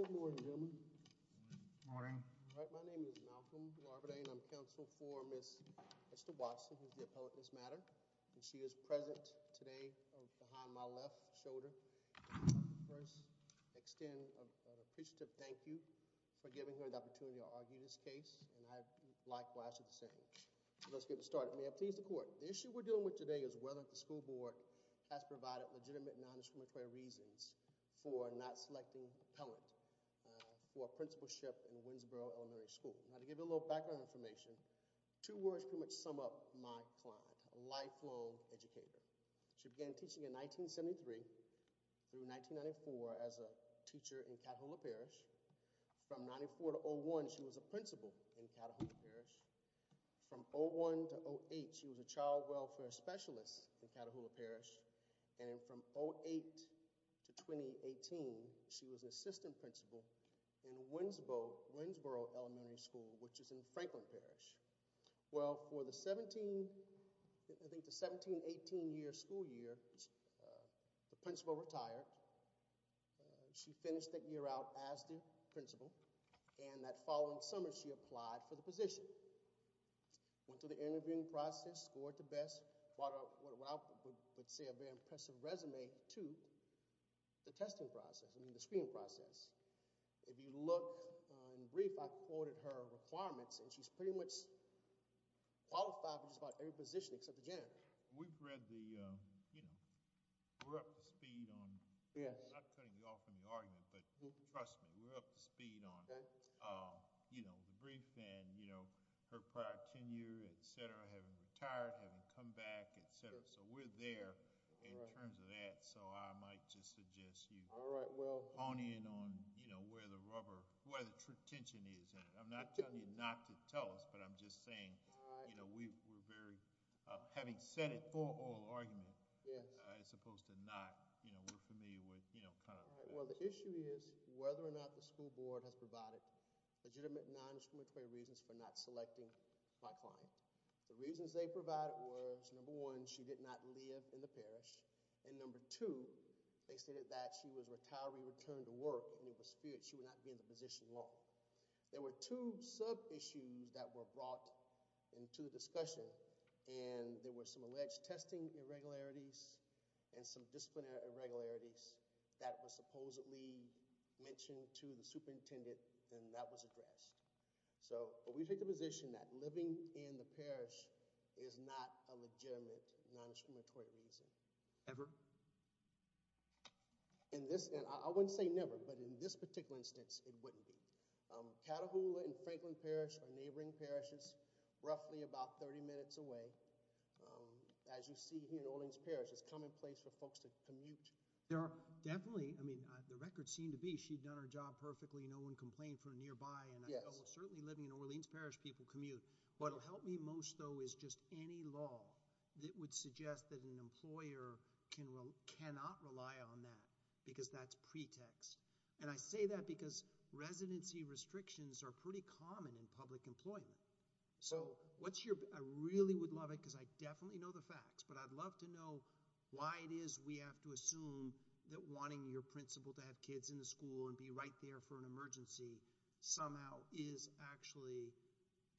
Good morning gentlemen. Good morning. My name is Malcolm L. and I'm counsel for Ms. Esther Watson who is the appellate in this matter and she is present today behind my left shoulder. First, I extend an appreciative thank you for giving her the opportunity to argue this case and I likewise do the same. Let's get started. May I please the court. The issue we're dealing with today is whether the school board has provided legitimate non-discriminatory reasons for not selecting appellant for principalship in Winsboro Elementary School. Now to give you a little background information, two words pretty much sum up my client. A lifelong educator. She began teaching in 1973 through 1994 as a teacher in Catholic Parish. From 94 to 01 she was a principal in Catahoula Parish. From 01 to 08 she was a child welfare specialist in Catahoula Parish and from 08 to 2018 she was an assistant principal in Winsboro Elementary School which is in Franklin Parish. Well for the 17, I think the 17-18 year school year the principal retired. She finished that year out as the principal and that following summer she applied for the position. Went through the interviewing process, scored the best what I would say a very impressive resume to the testing process, I mean the screening process. If you look in brief I quoted her requirements and she's pretty much qualified for just about every position except the gen. We've read the, you know, we're up to speed on, not cutting you off from the argument, but trust me we're up to speed on, you know, the brief and you know her prior tenure, etc., having retired, having come back, etc. So we're there in terms of that so I might just suggest you hone in on, you know, where the rubber, where the tension is. I'm not telling you not to tell us, but I'm just saying, you know, we were very, having said it, for all argument, as opposed to not, you know, we're familiar with, you know, kind of. Well the issue is whether or not the school board has provided legitimate non-discriminatory reasons for not selecting my client. The reasons they provided was, number one, she did not live in the parish and number two, they stated that she was retiree returned to work and it was feared she would not be in the position long. There were two sub-issues that were brought into the discussion and there were some alleged testing irregularities and some disciplinary irregularities that were supposedly mentioned to the superintendent and that was addressed. So we take the position that living in the parish is not a legitimate non-discriminatory reason. Ever? In this, and I wouldn't say never, but in this particular instance, it wouldn't be. Catahoula and Franklin Parish are neighboring parishes, roughly about 30 minutes away. As you see here in Orleans Parish, it's commonplace for folks to commute. There are definitely, I mean, the records seem to be she'd done her job perfectly, no one complained from nearby and certainly living in Orleans Parish, people commute. What will help me most though is just any law that would suggest that an employer cannot rely on that because that's pretext and I say that because residency restrictions are pretty common in public employment. So what's your, I really would love it because I definitely know the facts, but I'd love to know why it is we have to assume that wanting your principal to have kids in the school and be right there for an emergency somehow is actually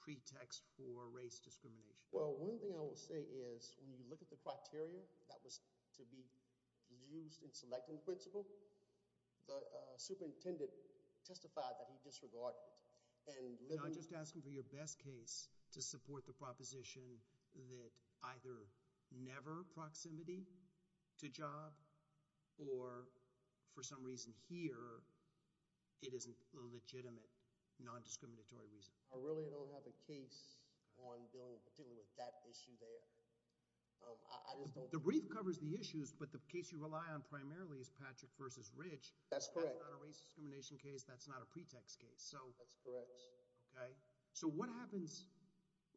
pretext for race discrimination. Well, one thing I will say is when you look at the criteria that was to be used in selecting principal, the superintendent testified that he disregarded it. I'm just asking for your best case to support the proposition that either never proximity to job or for some reason here it isn't a legitimate non-discriminatory reason. I really don't have a case on dealing with that issue there. The brief covers the issues, but the case you rely on primarily is Patrick versus Ridge. That's correct. That's not a race discrimination case, that's not a pretext case. That's correct. Okay, so what happens,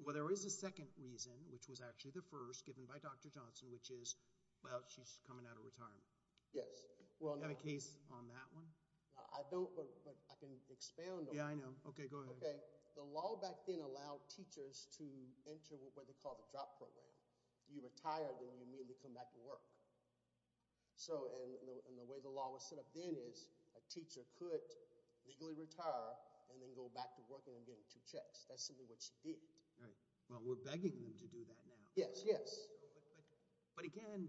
well there is a second reason, which was actually the first given by Dr. Johnson, which is, well, she's coming out of retirement. Yes. Do you have a case on that one? I don't, but I can expound on it. Yeah, I know. Okay, go ahead. Okay, the law back then allowed teachers to enter what they call the drop program. You retire, then you immediately come back to work. So, and the way the law was set up then is a teacher could legally retire and then go back to working and getting two checks. That's simply what she did. Right. Well, we're begging them to do that now. Yes, yes. But again,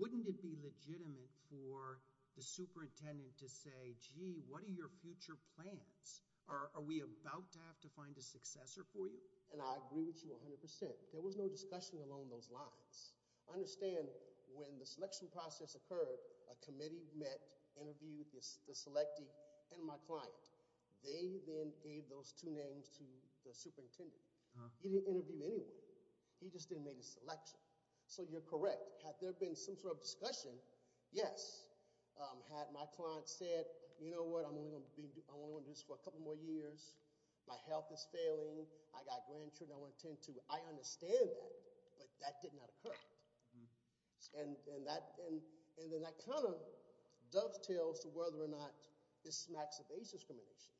wouldn't it be legitimate for the superintendent to say, gee, what are your future plans? Are we about to have to find a successor for you? And I agree with you 100%. There was no discussion along those lines. I understand when the selection process occurred, a committee met, interviewed the selectee and my client. They then gave those two names to the superintendent. He didn't interview anyone. He just didn't make a selection. So, you're correct. Had there been some sort of discussion, yes. Had my client said, you know what, I'm only going to do this for a couple more years. My health is failing. I got grandchildren I want to attend to. I understand that, but that did not occur. And then that kind of dovetails to whether or not this smacks of age discrimination.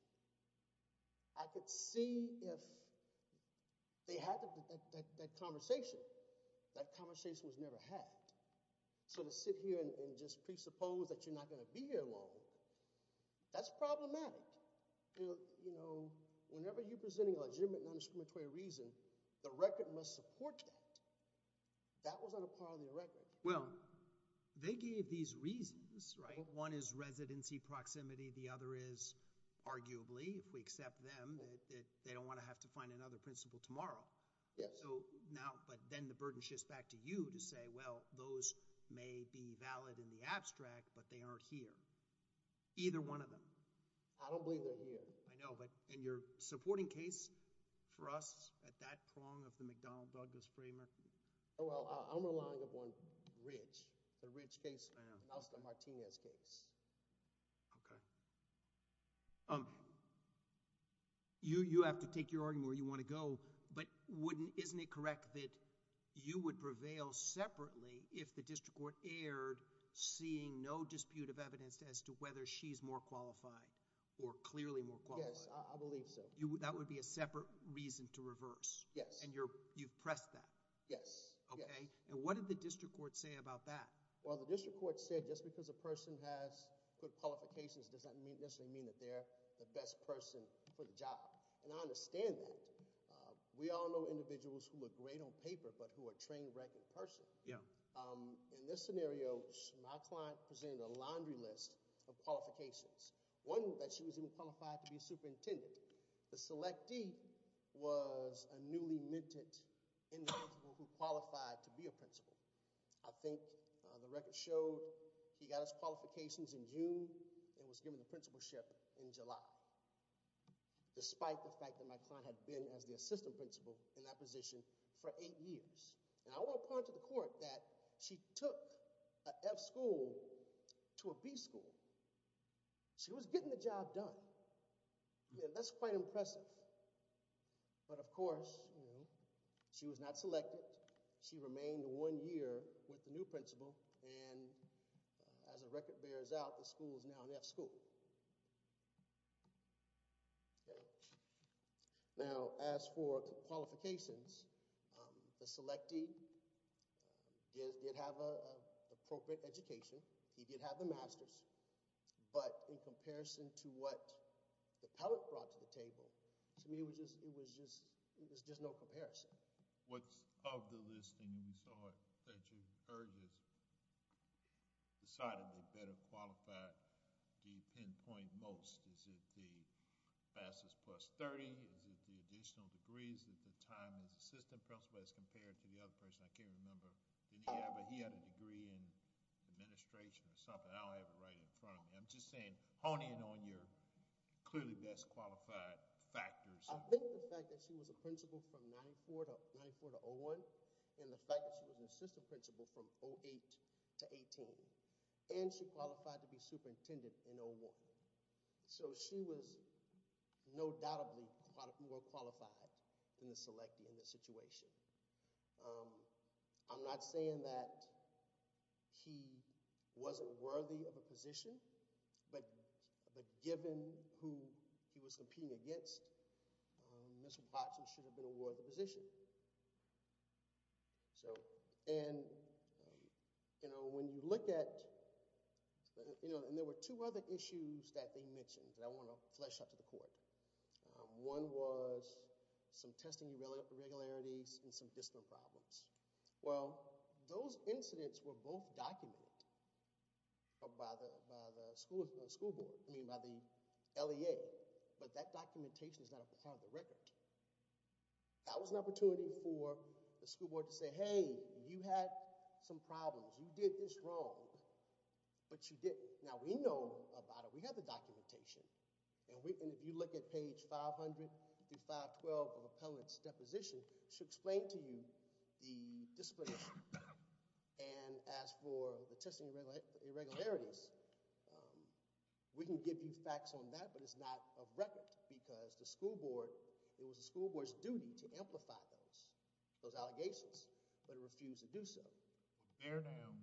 I could see if they had that conversation. That conversation was never had. So, to sit here and just presuppose that you're not going to be here long, that's problematic. You know, whenever you're presenting a legitimate non-discriminatory reason, the record must support that. That was not a part of the record. Well, they gave these reasons, right? One is residency proximity. The other is arguably, if we accept them, that they don't want to have to find another principal tomorrow. Yes. So, now, but then the burden shifts back to you to say, well, those may be valid in the abstract, but they aren't here. Either one of them. I don't believe they're here. I know, but in your supporting case for us at that prong of the McDonald-Douglas framework. Oh, well, I'm relying upon Rich. The Rich case, the Martinez case. Okay. You have to take your argument where you want to go, but wouldn't, isn't it correct that you would prevail separately if the district court erred seeing no dispute of evidence as to whether she's more qualified or clearly more qualified? Yes, I believe so. That would be a separate reason to reverse. Yes. And you're, you've pressed that. Yes. Okay. And what did the district court say about that? Well, the district court said just because a person has good qualifications does not necessarily mean that they're the best person for the job. And I understand that. We all know individuals who look great on paper, but who are a trained, reckoned person. Yeah. In this scenario, my client presented a laundry list of qualifications. One that she was even qualified to be superintendent. The selectee was a newly minted individual who qualified to be a principal. I think the record showed he got his qualifications in June and was given the principalship in July. Despite the fact that my client had been as the assistant principal in that position for eight years. And I will point to the court that she took an F school to a B school. She was getting the job done. Yeah, that's quite impressive. But of course, she was not selected. She remained one year with the new principal. And as a record bears out, the school is now an F school. Now, as for qualifications, the selectee did have an appropriate education. He did have the master's. But in comparison to what the appellate brought to the table, to me, it was just, it was just, it was just no comparison. What's of the listing that you heard is decidedly better qualified, do you pinpoint most? Is it the master's plus 30? Is it the additional degrees at the time as assistant principal as compared to the other person? I can't remember. He had a degree in administration or something. I don't have it right in front of me. I'm just saying, honing in on your clearly best qualified factors. I think the fact that she was a principal from 94 to 94 to 01, and the fact that she was an assistant principal from 08 to 18, and she qualified to be superintendent in 01. So she was no doubtably more qualified than the selectee in this situation. I'm not saying that he wasn't worthy of a position, but given who he was competing against, Mr. Plotkin should have been awarded the position. So, and, you know, when you look at, you know, and there were two other issues that they mentioned that I want to flesh out to the court. One was some testing irregularities and some discipline problems. Well, those incidents were both documented by the school board, I mean, by the LEA, but that documentation is not a part of the record. That was an opportunity for the school board to say, hey, you had some problems. You did this wrong, but you didn't. Now, we know about it. We have the documentation, and if you look at page 500 through 512 of appellant's deposition, she'll explain to you the discipline, and as for the testing irregularities, we can give you facts on that, but it's not of record because the school board is not a part of the record. It was the school board's duty to amplify those, those allegations, but it refused to do so. Yes.......... It's just a question. An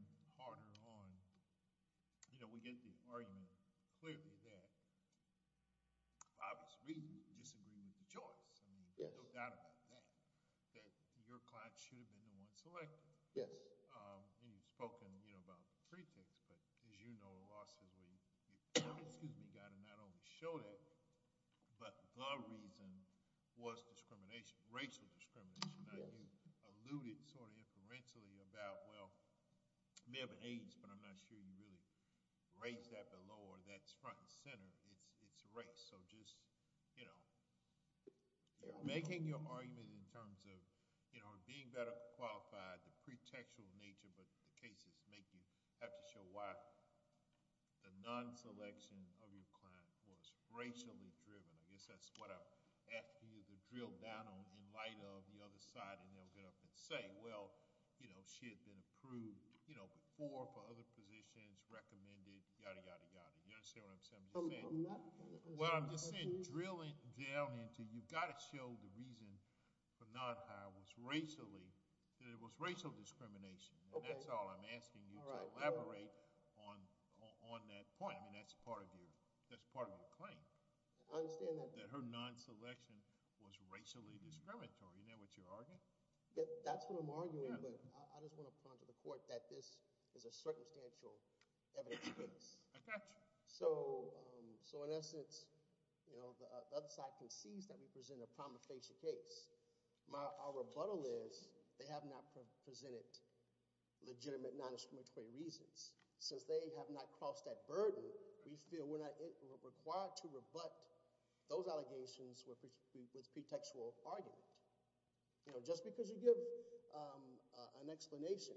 explanation.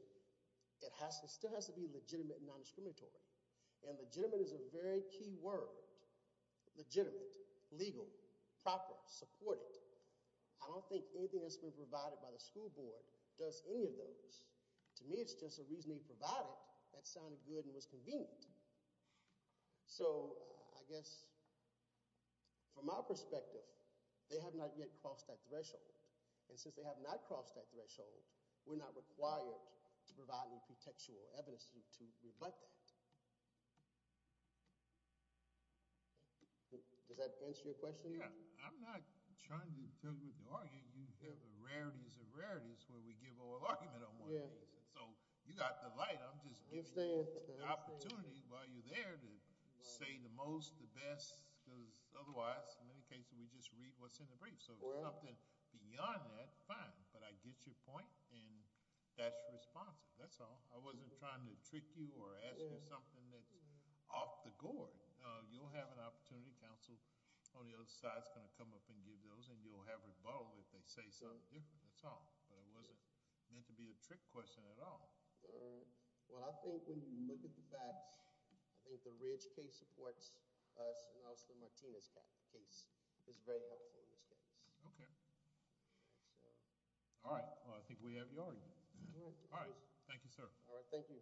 It has to still has to be legitimate non-discriminatory and legitimate is a very key word. Legitimate legal proper supported. I don't think anything has been provided by the school board does any of those to me. It's just a reason he provided that sounded good and was convenient. So I guess from our perspective, they have not yet crossed that threshold and since they have not crossed that threshold. We're not required to provide any pretextual evidence to rebut that. Does that answer your question? Yeah, I'm not trying to tell you with the argument. You have a rarities of rarities where we give all argument on one. Yeah, so you got the light. I'm just gives the opportunity while you're there to say the most the best because otherwise many cases we just read what's in the brief. So something beyond that fine, but I get your point and that's responsive. That's all I wasn't trying to trick you or ask you something that's off the gourd. You'll have an opportunity Council on the other side is going to come up and give those and you'll have rebuttal if they say something different. That's all but it wasn't meant to be a trick question at all. Well, I think when you look at the facts, I think the Ridge case supports us and also Martinez case is very helpful in this case. Okay. All right. Well, I think we have your All right. Thank you, sir. All right. Thank you.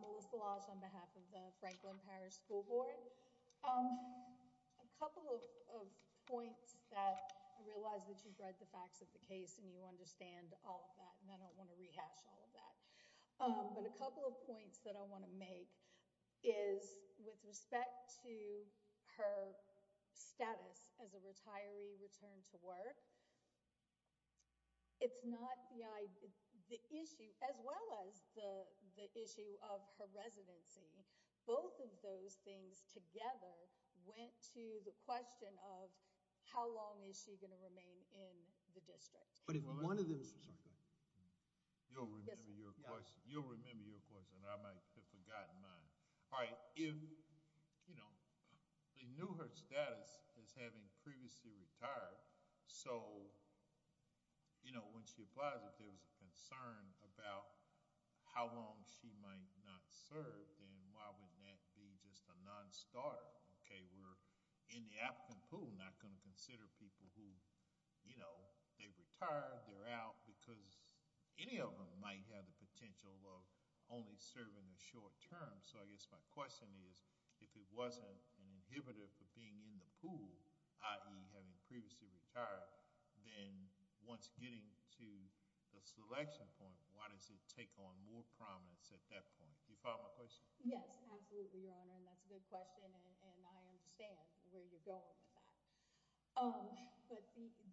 Melissa Lodge on behalf of the Franklin Parish school board a couple of points that I realize that you've read the understand all of that and I don't want to rehash all of that, but a couple of points that I want to make is with respect to her status as a retiree return to work. It's not the issue as well as the issue of her residency. Both of those things together went to the question of how long is she going to remain in the district? But if one of them is you'll remember your question. You'll remember your question. I might have forgotten mine. All right, if you know, they knew her status is having previously retired. So, you know when she applies if there was a concern about how long she might not serve and why wouldn't that be just a non-starter? Okay, we're in the applicant pool not going to consider people who you know, they've retired. They're out because any of them might have the potential of only serving the short term. So I guess my question is if it wasn't an inhibitor for being in the pool, having previously retired then once getting to the selection point, why does it take on more prominence at that point? You follow my question? Yes, absolutely your honor. And that's a good question. And I understand where you're going with that. Um, but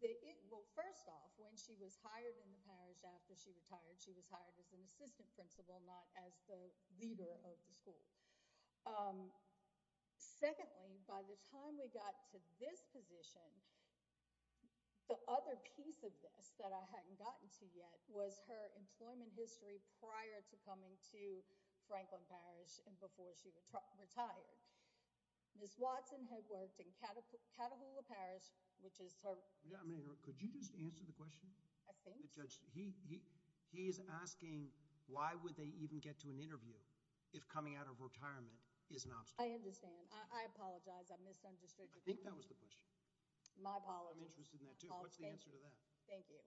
it will first off when she was hired in the parish after she retired. She was hired as an assistant principal not as the leader of the school. Secondly, by the time we got to this position, the other piece of this that I hadn't gotten to yet was her employment history prior to coming to Franklin Parish and before she retired. Ms. Watson had worked in Catahoula Parish, which is her Could you just answer the question? I think the judge he he he is asking why would they even get to an interview? If coming out of retirement is an obstacle. I understand. I apologize. I misunderstood. I think that was the question. My apologies. I'm interested in that too. What's the answer to that? Thank you.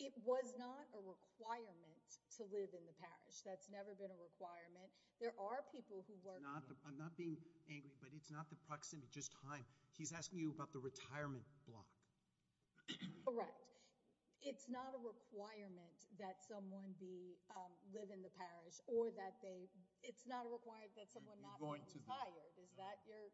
It was not a requirement to live in the parish. That's never been a requirement. There are people who work. I'm not being angry, but it's not the proximity just time. He's asking you about the retirement block. Correct. It's not a requirement that someone be live in the parish or that they it's not a requirement that someone not going to hire. Is that your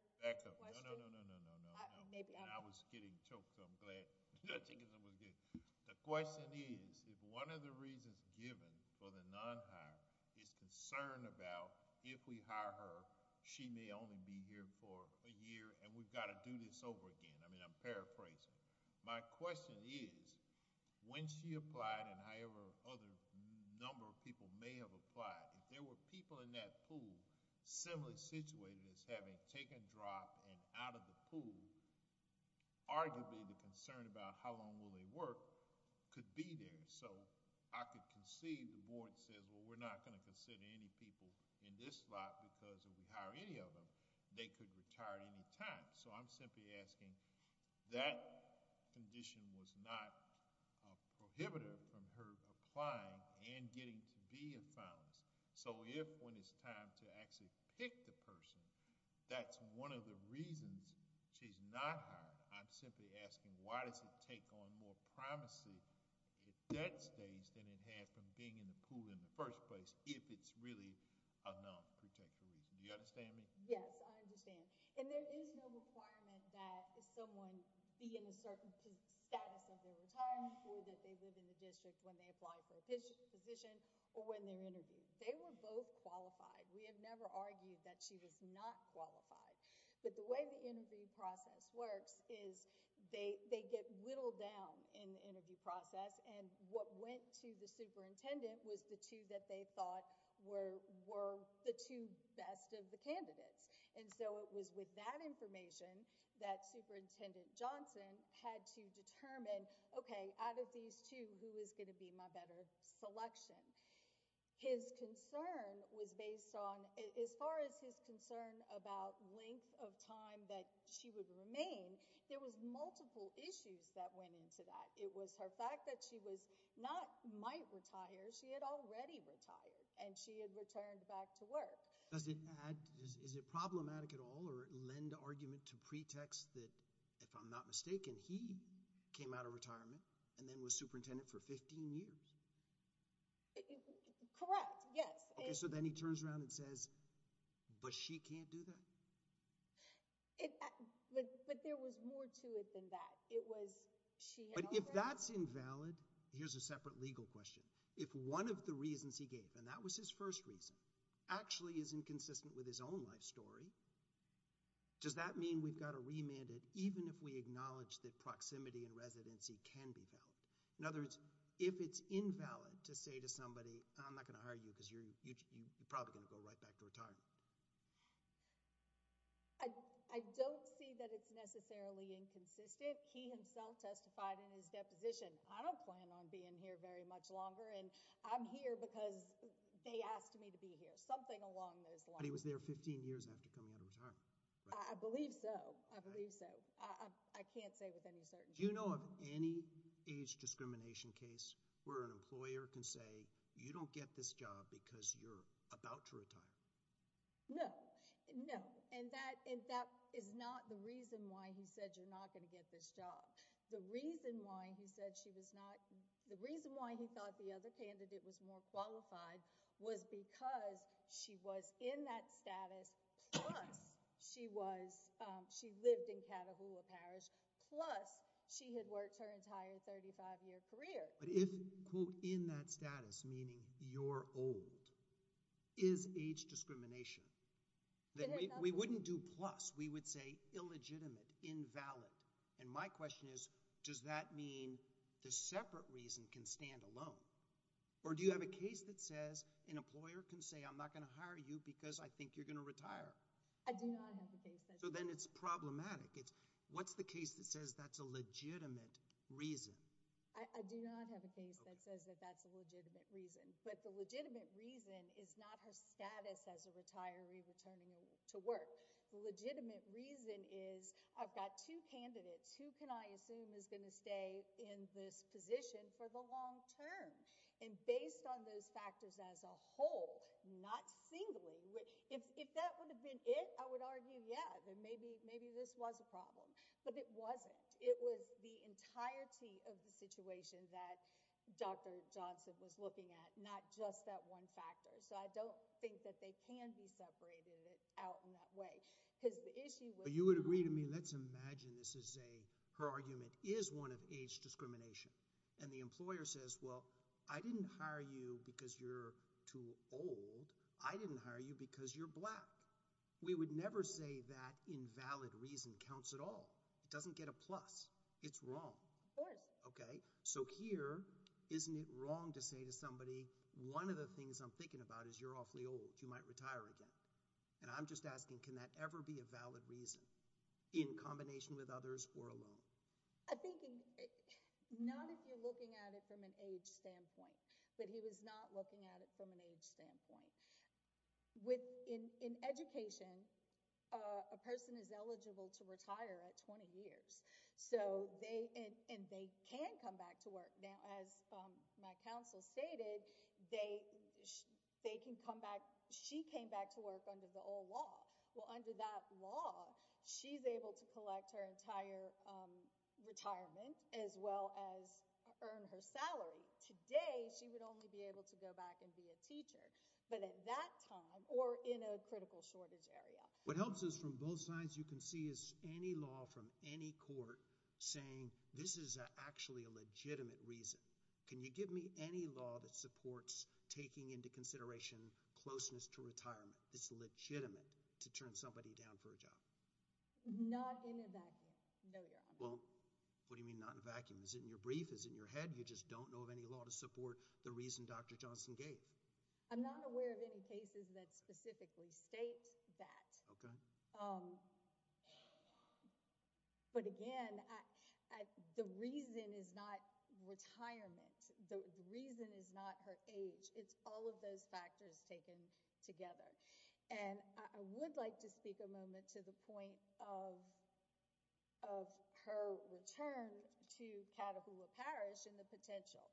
maybe I was getting choked. I'm glad. The question is if one of the reasons given for the non-hire is concerned about if we hire her, she may only be here for a year and we've got to do this over again. I mean, I'm paraphrasing. My question is when she applied and however other number of people may have applied. If there were people in that pool similarly situated as having taken drop and out of the pool arguably the concern about how long will they work could be there. So I could concede the board says, well, we're not going to consider any people in this lot because we hire any of them. They could retire at any time. So I'm simply asking that condition was not prohibitive from her applying and getting to be a founds. So if when it's time to actually pick the person that's one of the reasons she's not hard. I'm simply asking why does it take on more privacy? At that stage than it has from being in the pool in the first place. If it's really a non-protective reason. Do you understand me? Yes, I understand and there is no requirement that someone be in a certain status of their retirement or that they live in the district when they apply for a position or when they're interviewed. They were both qualified. We have never argued that she was not qualified. But the way the interview process works is they get whittled down in the interview process. And what went to the superintendent was the two that they thought were were the two best of the candidates. And so it was with that information that Superintendent Johnson had to determine. Okay out of these two who is going to be my better selection. His concern was based on as far as his concern about length of time that she would remain. There was multiple issues that went into that. It was her fact that she was not might retire. She had already retired and she had returned back to work. Does it add is it problematic at all or lend argument to pretext that if I'm not mistaken, he came out of retirement and then was superintendent for 15 years. Correct. Yes. So then he turns around and says but she can't do that. It but but there was more to it than that. It was she but if that's invalid, here's a separate legal question. If one of the reasons he gave and that was his first reason actually is inconsistent with his own life story. Does that mean we've got a remanded even if we acknowledge that proximity and residency can be valid. In other words, if it's invalid to say to somebody, I'm not going to hire you because you're probably going to go right back to retirement. I don't see that it's necessarily inconsistent. He himself testified in his deposition. I don't plan on being here very much longer and I'm here because they asked me to be here something along those lines. He was there 15 years after coming out of retirement. I believe so. I believe so. I can't say with any certainty, you know, of any age discrimination case where an employer can say you don't get this job because you're about to retire. No, no, and that is not the reason why he said you're not going to get this job. The reason why he said she was not the reason why he thought the other candidate was more qualified was because she was in that status. She was she lived in Catahoula Parish plus she had worked her entire 35-year career. But if quote in that status meaning you're old is age discrimination. Then we wouldn't do plus we would say illegitimate invalid. And my question is does that mean the separate reason can stand alone? Or do you have a case that says an employer can say I'm not going to hire you because I think you're going to retire. So then it's problematic. It's what's the case that says that's a legitimate reason. I do not have a case that says that that's a legitimate reason but the legitimate reason is not her status as a retiree returning to work. The legitimate reason is I've got two candidates who can I assume is going to stay in this position for the long term and based on those factors as a whole not singly. If that would have been it I would argue. Yeah, then maybe maybe this was a problem, but it wasn't it was the entirety of the situation that Dr. Johnson was looking at not just that one factor. So I don't think that they can be separated it out in that way because the issue you would agree to me. Let's imagine. This is a her argument is one of age discrimination and the employer says well, I didn't hire you because you're too old. I didn't hire you because you're black. We would never say that invalid reason counts at all. It doesn't get a plus. It's wrong. Of course. Okay. So here isn't it wrong to say to somebody one of the things I'm thinking about is you're awfully old. You might retire again and I'm just asking can that ever be a valid reason in combination with others or alone. I think not if you're looking at it from an age standpoint, but he was not looking at it from an age standpoint with in education a person is eligible to retire at 20 years. So they and they can come back to work now as my counsel stated they they can come back. She came back to work under the old law. Well under that law, she's able to collect her entire retirement as well as earn her salary today. She would only be able to go back and be a teacher but at that time or in a critical shortage area. What helps us from both sides. You can see is any law from any court saying this is actually a legitimate reason. Can you give me any law that supports taking into consideration closeness to retirement? It's legitimate to turn somebody down for a job. Not in a vacuum. No, you're on. Well, what do you mean not in a vacuum? Is it in your brief is in your head? You just don't know of any law to support the reason. Dr. Johnson gave I'm not aware of any cases that specifically state that but again, the reason is not retirement. The reason is not her age. It's all of those factors taken together and I would like to speak a moment to the point of her return to Catahoula Parish and the potential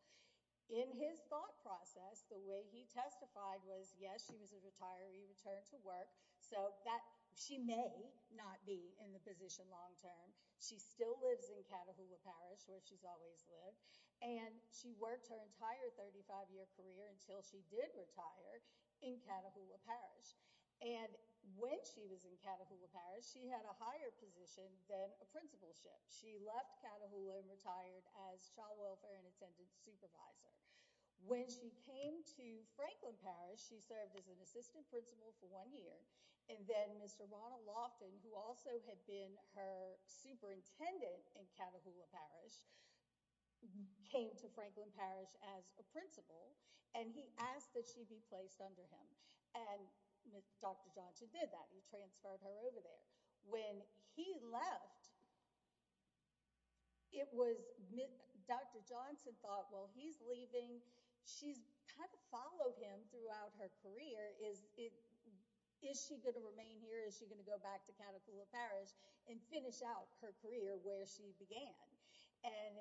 in his thought process. The way he testified was yes. She was a retiree return to work so that she may not be in the position long-term. She still lives in Catahoula Parish where she's always lived and she worked her entire 35-year career until she did retire in Catahoula Parish and when she was in Catahoula Parish, she had a higher position than a principalship. She left Catahoula and retired as child welfare and attendance supervisor when she came to Franklin Parish. She served as an assistant principal for one year and then Mr. Ronald Lofton who also had been her superintendent in Catahoula Parish. Came to Franklin Parish as a principal and he asked that she be placed under him and Dr. Johnson did that he transferred her over there when he left. It was Dr. Johnson thought well, he's leaving. She's kind of followed him throughout her career. Is it is she going to remain here? Is she going to go back to Catahoula Parish and finish out her career where she began? And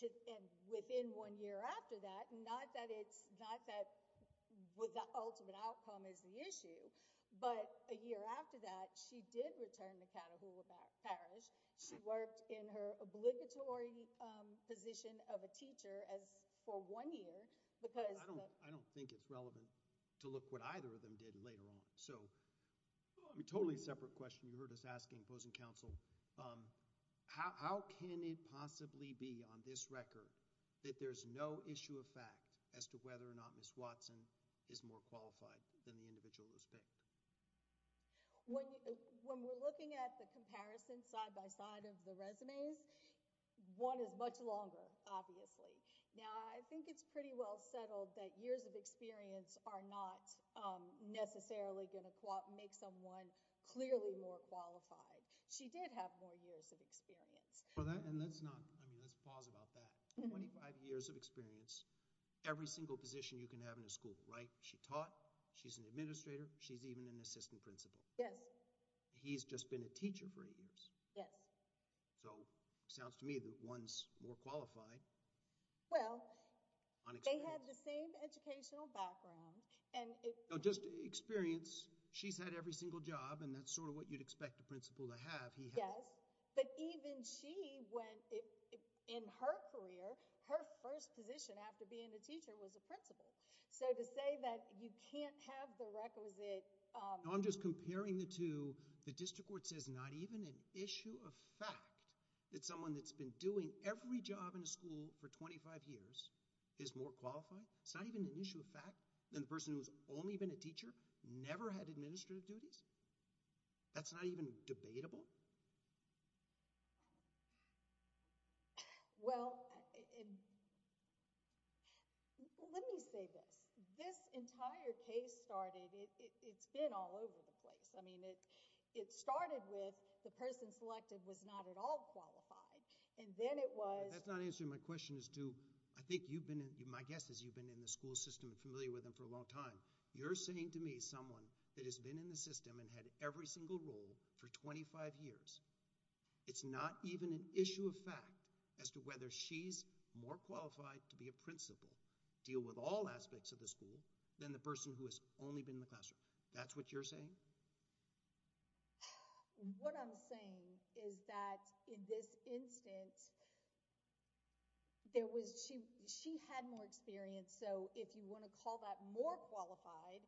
to end within one year after that not that it's not that with the ultimate outcome is the issue but a year after that she did return to Catahoula Parish. She worked in her obligatory position of a teacher as for one year because I don't I don't think it's relevant to look what either of them did later on. So I'm totally separate question. You heard us asking opposing counsel. How can it possibly be on this record that there's no issue of fact as to whether or not Miss Watson is more qualified than the individual is picked. When you when we're looking at the comparison side by side of the resumes one is much longer obviously now. I think it's pretty well settled that years of experience are not necessarily going to make someone clearly more qualified. She did have more years of experience for that and that's not I mean, let's pause about that 25 years of experience. Every single position you can have in a school, right? She taught she's an administrator. She's even an assistant principal. Yes. He's just been a teacher for years. Yes. So sounds to me that one's more qualified. Well, they had the same educational background and it just experience. She's had every single job and that's sort of what you'd expect a principal to have. He has but even she when it in her career her first position after being a teacher was a principal. So to say that you can't have the requisite. I'm just comparing the two the district where it says not even an issue of fact that someone that's been doing every job in the school for 25 years is more qualified. It's not even an issue of fact than the person who's only been a teacher never had administrative duties. That's not even debatable. Well, let me say this this entire case started it's been all over the place. I mean it it started with the person selected was not at all qualified and then it was that's not an issue. My question is to I think you've been in my guess is you been in the school system and familiar with them for a long time. You're saying to me someone that has been in the system and had every single role for 25 years. It's not even an issue of fact as to whether she's more qualified to be a principal deal with all aspects of the school than the person who has only been in the classroom. That's what you're saying. What I'm saying is that in this instance there was she she had more experience. So if you want to call that more qualified,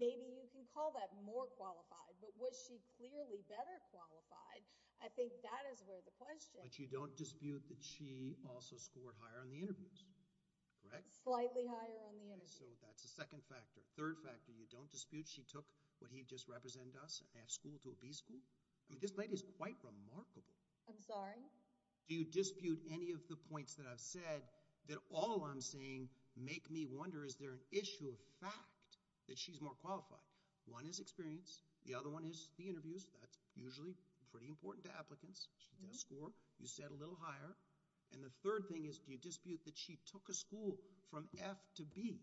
maybe you can call that more qualified. But was she clearly better qualified? I think that is where the question but you don't dispute that. She also scored higher on the interviews. Correct slightly higher on the energy. So that's the second factor third factor. You don't dispute. She took what he just represent us and have school to a B school. I mean this lady is quite remarkable. I'm sorry. Do you dispute any of the points that I've said that all I'm saying make me wonder is there an issue of fact that she's more qualified one is experience. The other one is the interviews. That's usually pretty important to applicants. She does score. You said a little higher and the third thing is do you dispute that? She took a school from F to B.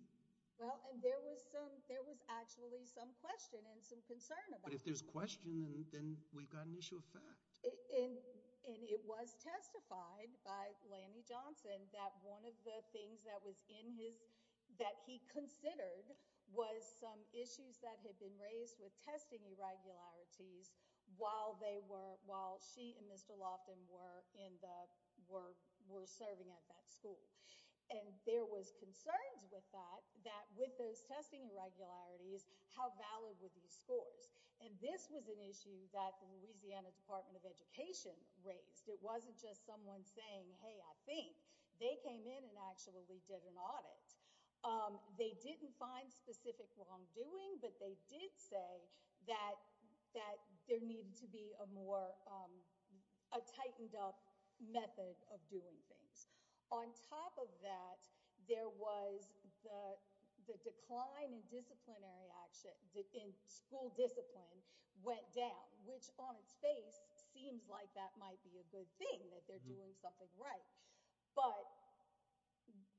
Well, and there was some there was actually some question and some concern about if there's question and then we've got an issue of fact. And it was testified by Lanny Johnson that one of the things that was in his that he considered was some issues that had been raised with testing irregularities while they were while she and Mr. Lofton were in the were were serving at that school and there was concerns with that that with those testing irregularities how valid with these scores and this was an Department of Education raised. It wasn't just someone saying hey, I think they came in and actually did an audit. They didn't find specific wrongdoing, but they did say that that there needed to be a more a tightened up method of doing things on top of that. There was the decline in disciplinary action in school discipline went down which on its face seems like that might be a good thing that they're doing something, right? But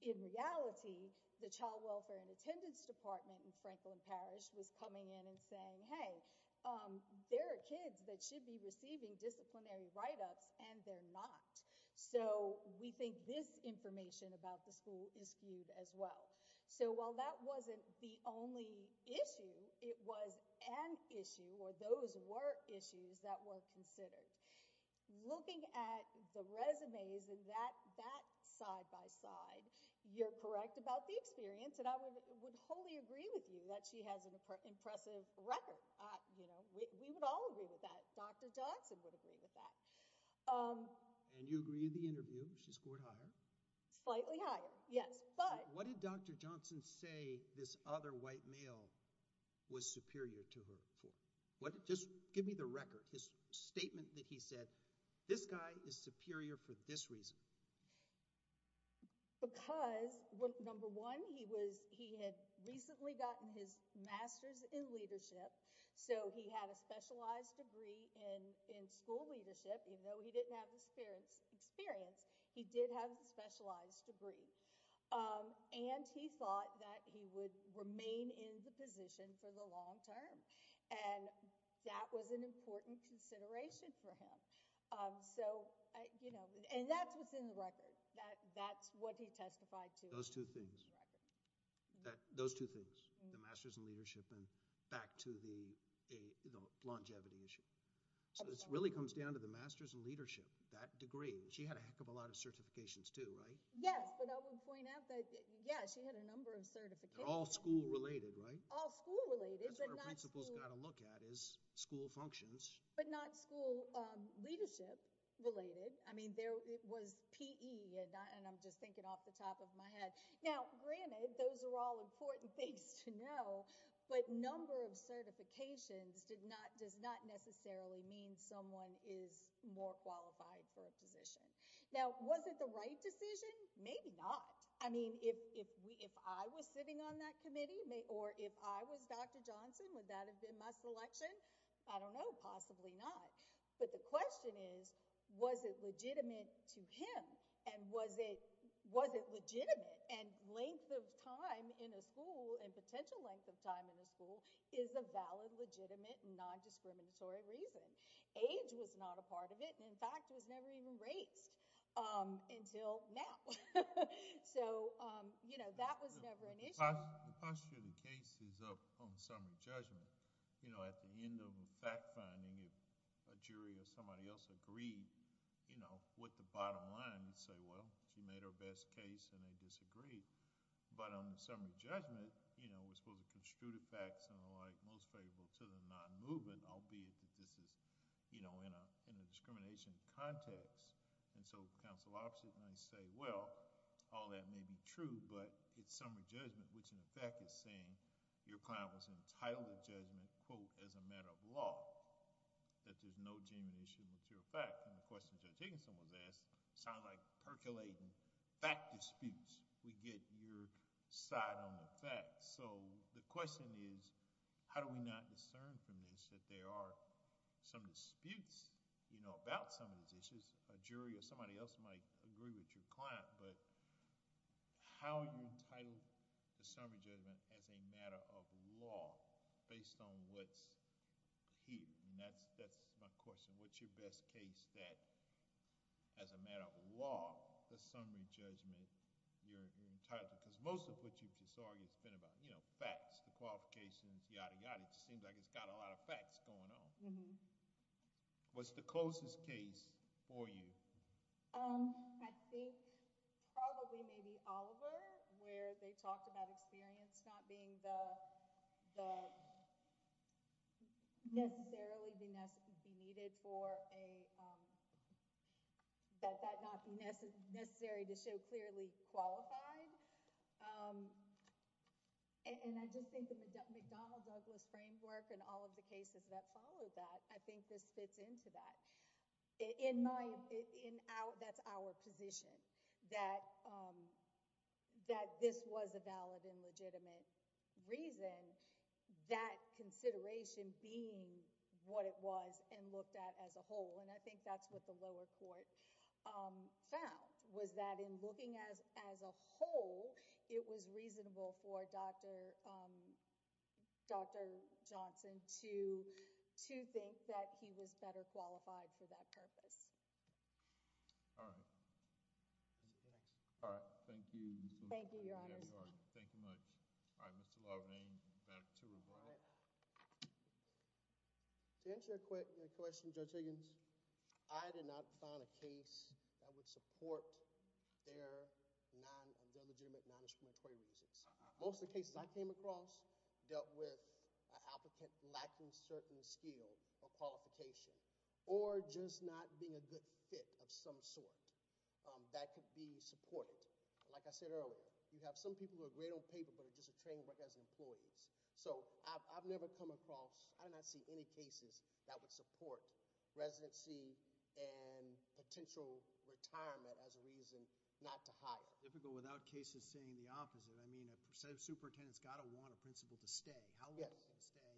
in reality the child welfare and attendance Department in Franklin Parish was coming in and saying hey, there are kids that should be receiving disciplinary write-ups and they're not so we think this information about the school is viewed as well. So while that wasn't the only issue it was an issue where those were issues that were considered looking at the resumes and that that side-by-side you're correct about the experience and I would wholly agree with you that she has an impressive record. You know, we would all agree with that. Dr. Johnson would agree with that and you agree in the interview. She scored higher slightly higher. Yes, but what did Dr. Johnson say this other white male was superior to her for what just give me the record his statement that he said this guy is superior for this reason because what number one he was he had recently gotten his Masters in leadership. So he had a specialized degree in in school leadership, you know, he didn't have experience experience. He did have a specialized degree. And he thought that he would remain in the position for the long term and that was an important consideration for him. So, you know, and that's what's in the record that that's what he testified to those two things that those two things the Masters in leadership and back to the longevity issue. So this really comes down to the Masters in leadership that degree. She had a heck of a lot of certifications to write. Yes, but I would point out that yes, you had a number of certification all school related, right? All school related, but not suppose got to look at is school functions, but not school leadership related. I mean there was PE and I'm just thinking off the top of my head now granted. Those are all important things to know but number of certifications did not does not necessarily mean someone is more qualified for a position. Now, was it the right decision? Maybe not. I mean if we if I was sitting on that committee may or if I was dr. Johnson would that have been my selection? I don't know possibly not but the question is was it legitimate to him and was it was it legitimate and length of time in a school and potential length of time in the school is a valid legitimate non-discriminatory reason age was not a part of it. And in fact, it was never even raised until now. So, you know, that was never an issue. The posture of the case is up on summary judgment, you know at the end of a fact-finding if a jury or somebody else agreed, you know with the bottom line and say well she made her best case and they disagreed but on the summary judgment, you know, we're supposed to construe the facts and the like most favorable to the non-movement albeit that this is, you know, in a in a discrimination context. And so counsel opposite and I say well all that may be true, but it's summary judgment which in effect is saying your client was entitled to judgment quote as a matter of law that there's no genuine issue material fact and the question Judge Higginson was asked sound like percolating fact disputes. We get your side on the facts. So the question is how do we not discern from this that there are some disputes, you know about some of these issues a jury or somebody else might agree with your client, but how you title the summary judgment as a matter of law based on what's here and that's that's my question. What's your best case that as a matter of law the summary judgment you're entitled to because most of what you've just argued has been about, you know, facts, the qualifications, yada yada. It just seems like it's got a lot of facts going on. What's the closest case for you? I think probably maybe Oliver where they talked about experience not being the necessarily be necessary be needed for a that that not be necessary to show clearly qualified and I just think the McDonald Douglas framework and all of the cases that followed that. I think this fits into that in my in our that's our position that that this was a valid and legitimate reason that consideration being what it was and looked at as a whole and I think that's what the lower court found was that in looking as as a whole it was reasonable for Dr. Johnson to to think that he was better qualified for that purpose. All right. Thank you. Thank you. Your Honor. Thank you much. All right. Mr. Loving back to to answer your quick question, Judge Higgins. I did not find a case that would support their non-legitimate non-explanatory reasons. Most of the cases I came across dealt with an applicant lacking certain skill or qualification or just not being a good fit of some sort that could be supported. Like I said earlier, you have some people who are great on paper, but are just a training work as employees. So I've never come across. I do not see any cases that would support residency and potential retirement as a reason not to hire difficult without cases saying the opposite. I mean a percent of superintendents got to want a principal to stay. How long will they stay?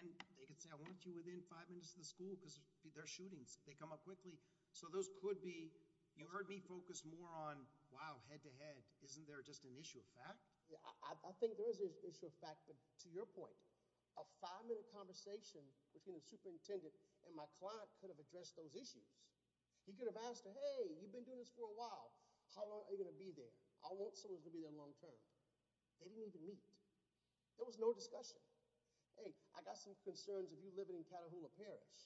And they could say I want you within five minutes of the school because they're shootings. They come up quickly. So those could be you heard me focus more on wow head-to-head. Isn't there just an issue of fact? Yeah, I think there is an issue of fact, but to your point a five-minute conversation between the superintendent and my client could have addressed those issues. He could have asked her. Hey, you've been doing this for a while. How long are you going to be there? I want someone to be there long-term. They didn't even meet. There was no discussion. Hey, I got some concerns of you living in Catahoula Parish.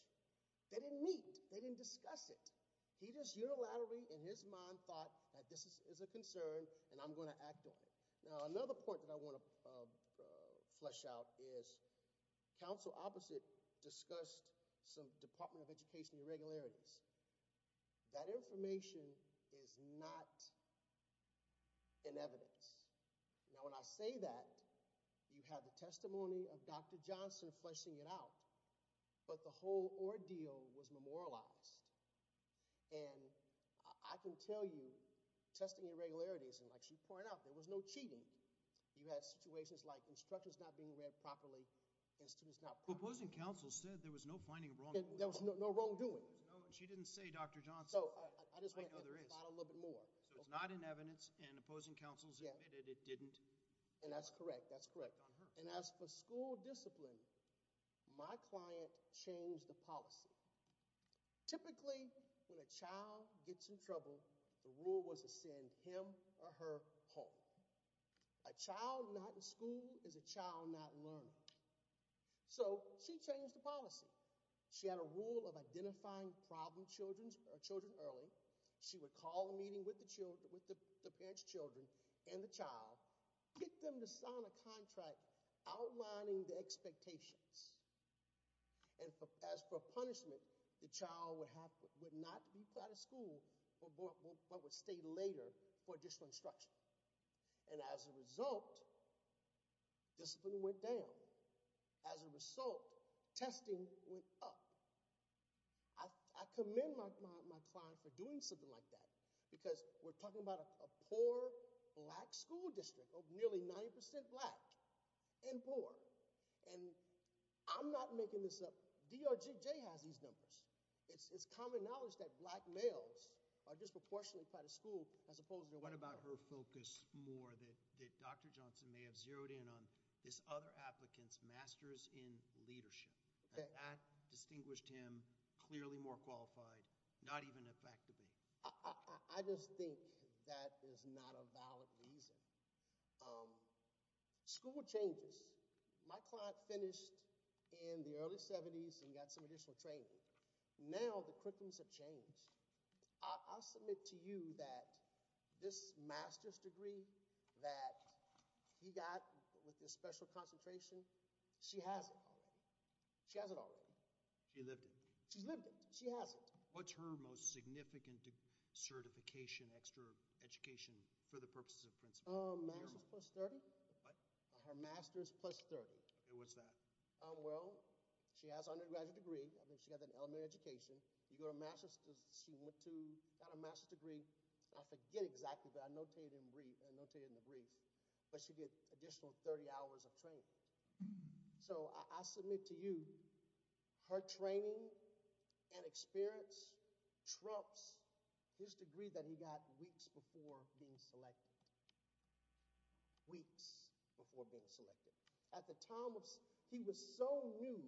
They didn't meet. They didn't discuss it. He just unilaterally in his mind thought that this is a concern and I'm going to act on it. Now another point that I want to flesh out is council opposite discussed some Department of Education irregularities. That information is not. In evidence. Now when I say that you have the testimony of dr. Johnson fleshing it out, but the whole ordeal was memorialized and I can tell you testing irregularities and like she pointed out there was no cheating. You had situations like instructions not being read properly and students not proposing Council said there was no finding of wrong. There was no wrongdoing. She didn't say dr. Johnson. So I just want a little bit more. So it's not in evidence and opposing Council's admitted. It didn't and that's correct. That's correct on her and as for school discipline, my client changed the policy. Typically when a child gets in trouble, the rule was to send him or her home a child not in school is a child not learning. So she changed the policy. She had a rule of identifying problem. Children's or children early. She would call a meeting with the children with the parents children and the child get them to sign a contract outlining the expectations. And as for punishment, the child would have would not be proud of school or what would stay later for additional instruction. And as a result. Discipline went down. As a result testing went up. I commend my client for doing something like that because we're talking about a poor black school district of nearly 90% black and poor and I'm not making this up dr. JJ has these numbers. It's common knowledge that black males are disproportionately quite a school as opposed to what about her focus more than that. Dr. Applicants Masters in leadership that distinguished him clearly more qualified not even effectively. I just think that is not a valid reason. School changes my client finished in the early 70s and got some additional training. Now the quickens have changed. I'll submit to you that this master's degree that he got with this special concentration. She has it. She has it already. She lived it. She's lived it. She has it. What's her most significant? Certification extra education for the purposes of principle masters plus 30. Her master's plus 30. It was that well, she has undergraduate degree. I think she got an elementary education. You go to Massachusetts. She went to got a master's degree. I forget exactly but I notated in brief and notated in the 30 hours of training. So I submit to you her training and experience Trump's his degree that he got weeks before being selected. Weeks before being selected at the time of he was so new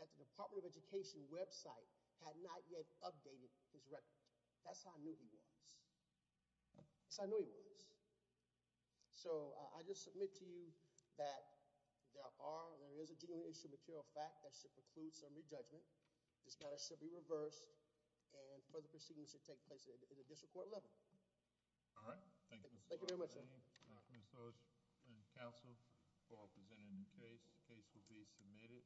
that the Department of Education website had not yet updated his record. That's how I knew he was. So I know he was. So I just submit to you that there are there is a genuine issue material fact that should preclude some rejudgment. This matter should be reversed and for the proceedings to take place at the district court level. All right. Thank you. Thank you very much. Council for presenting the case case will be submitted.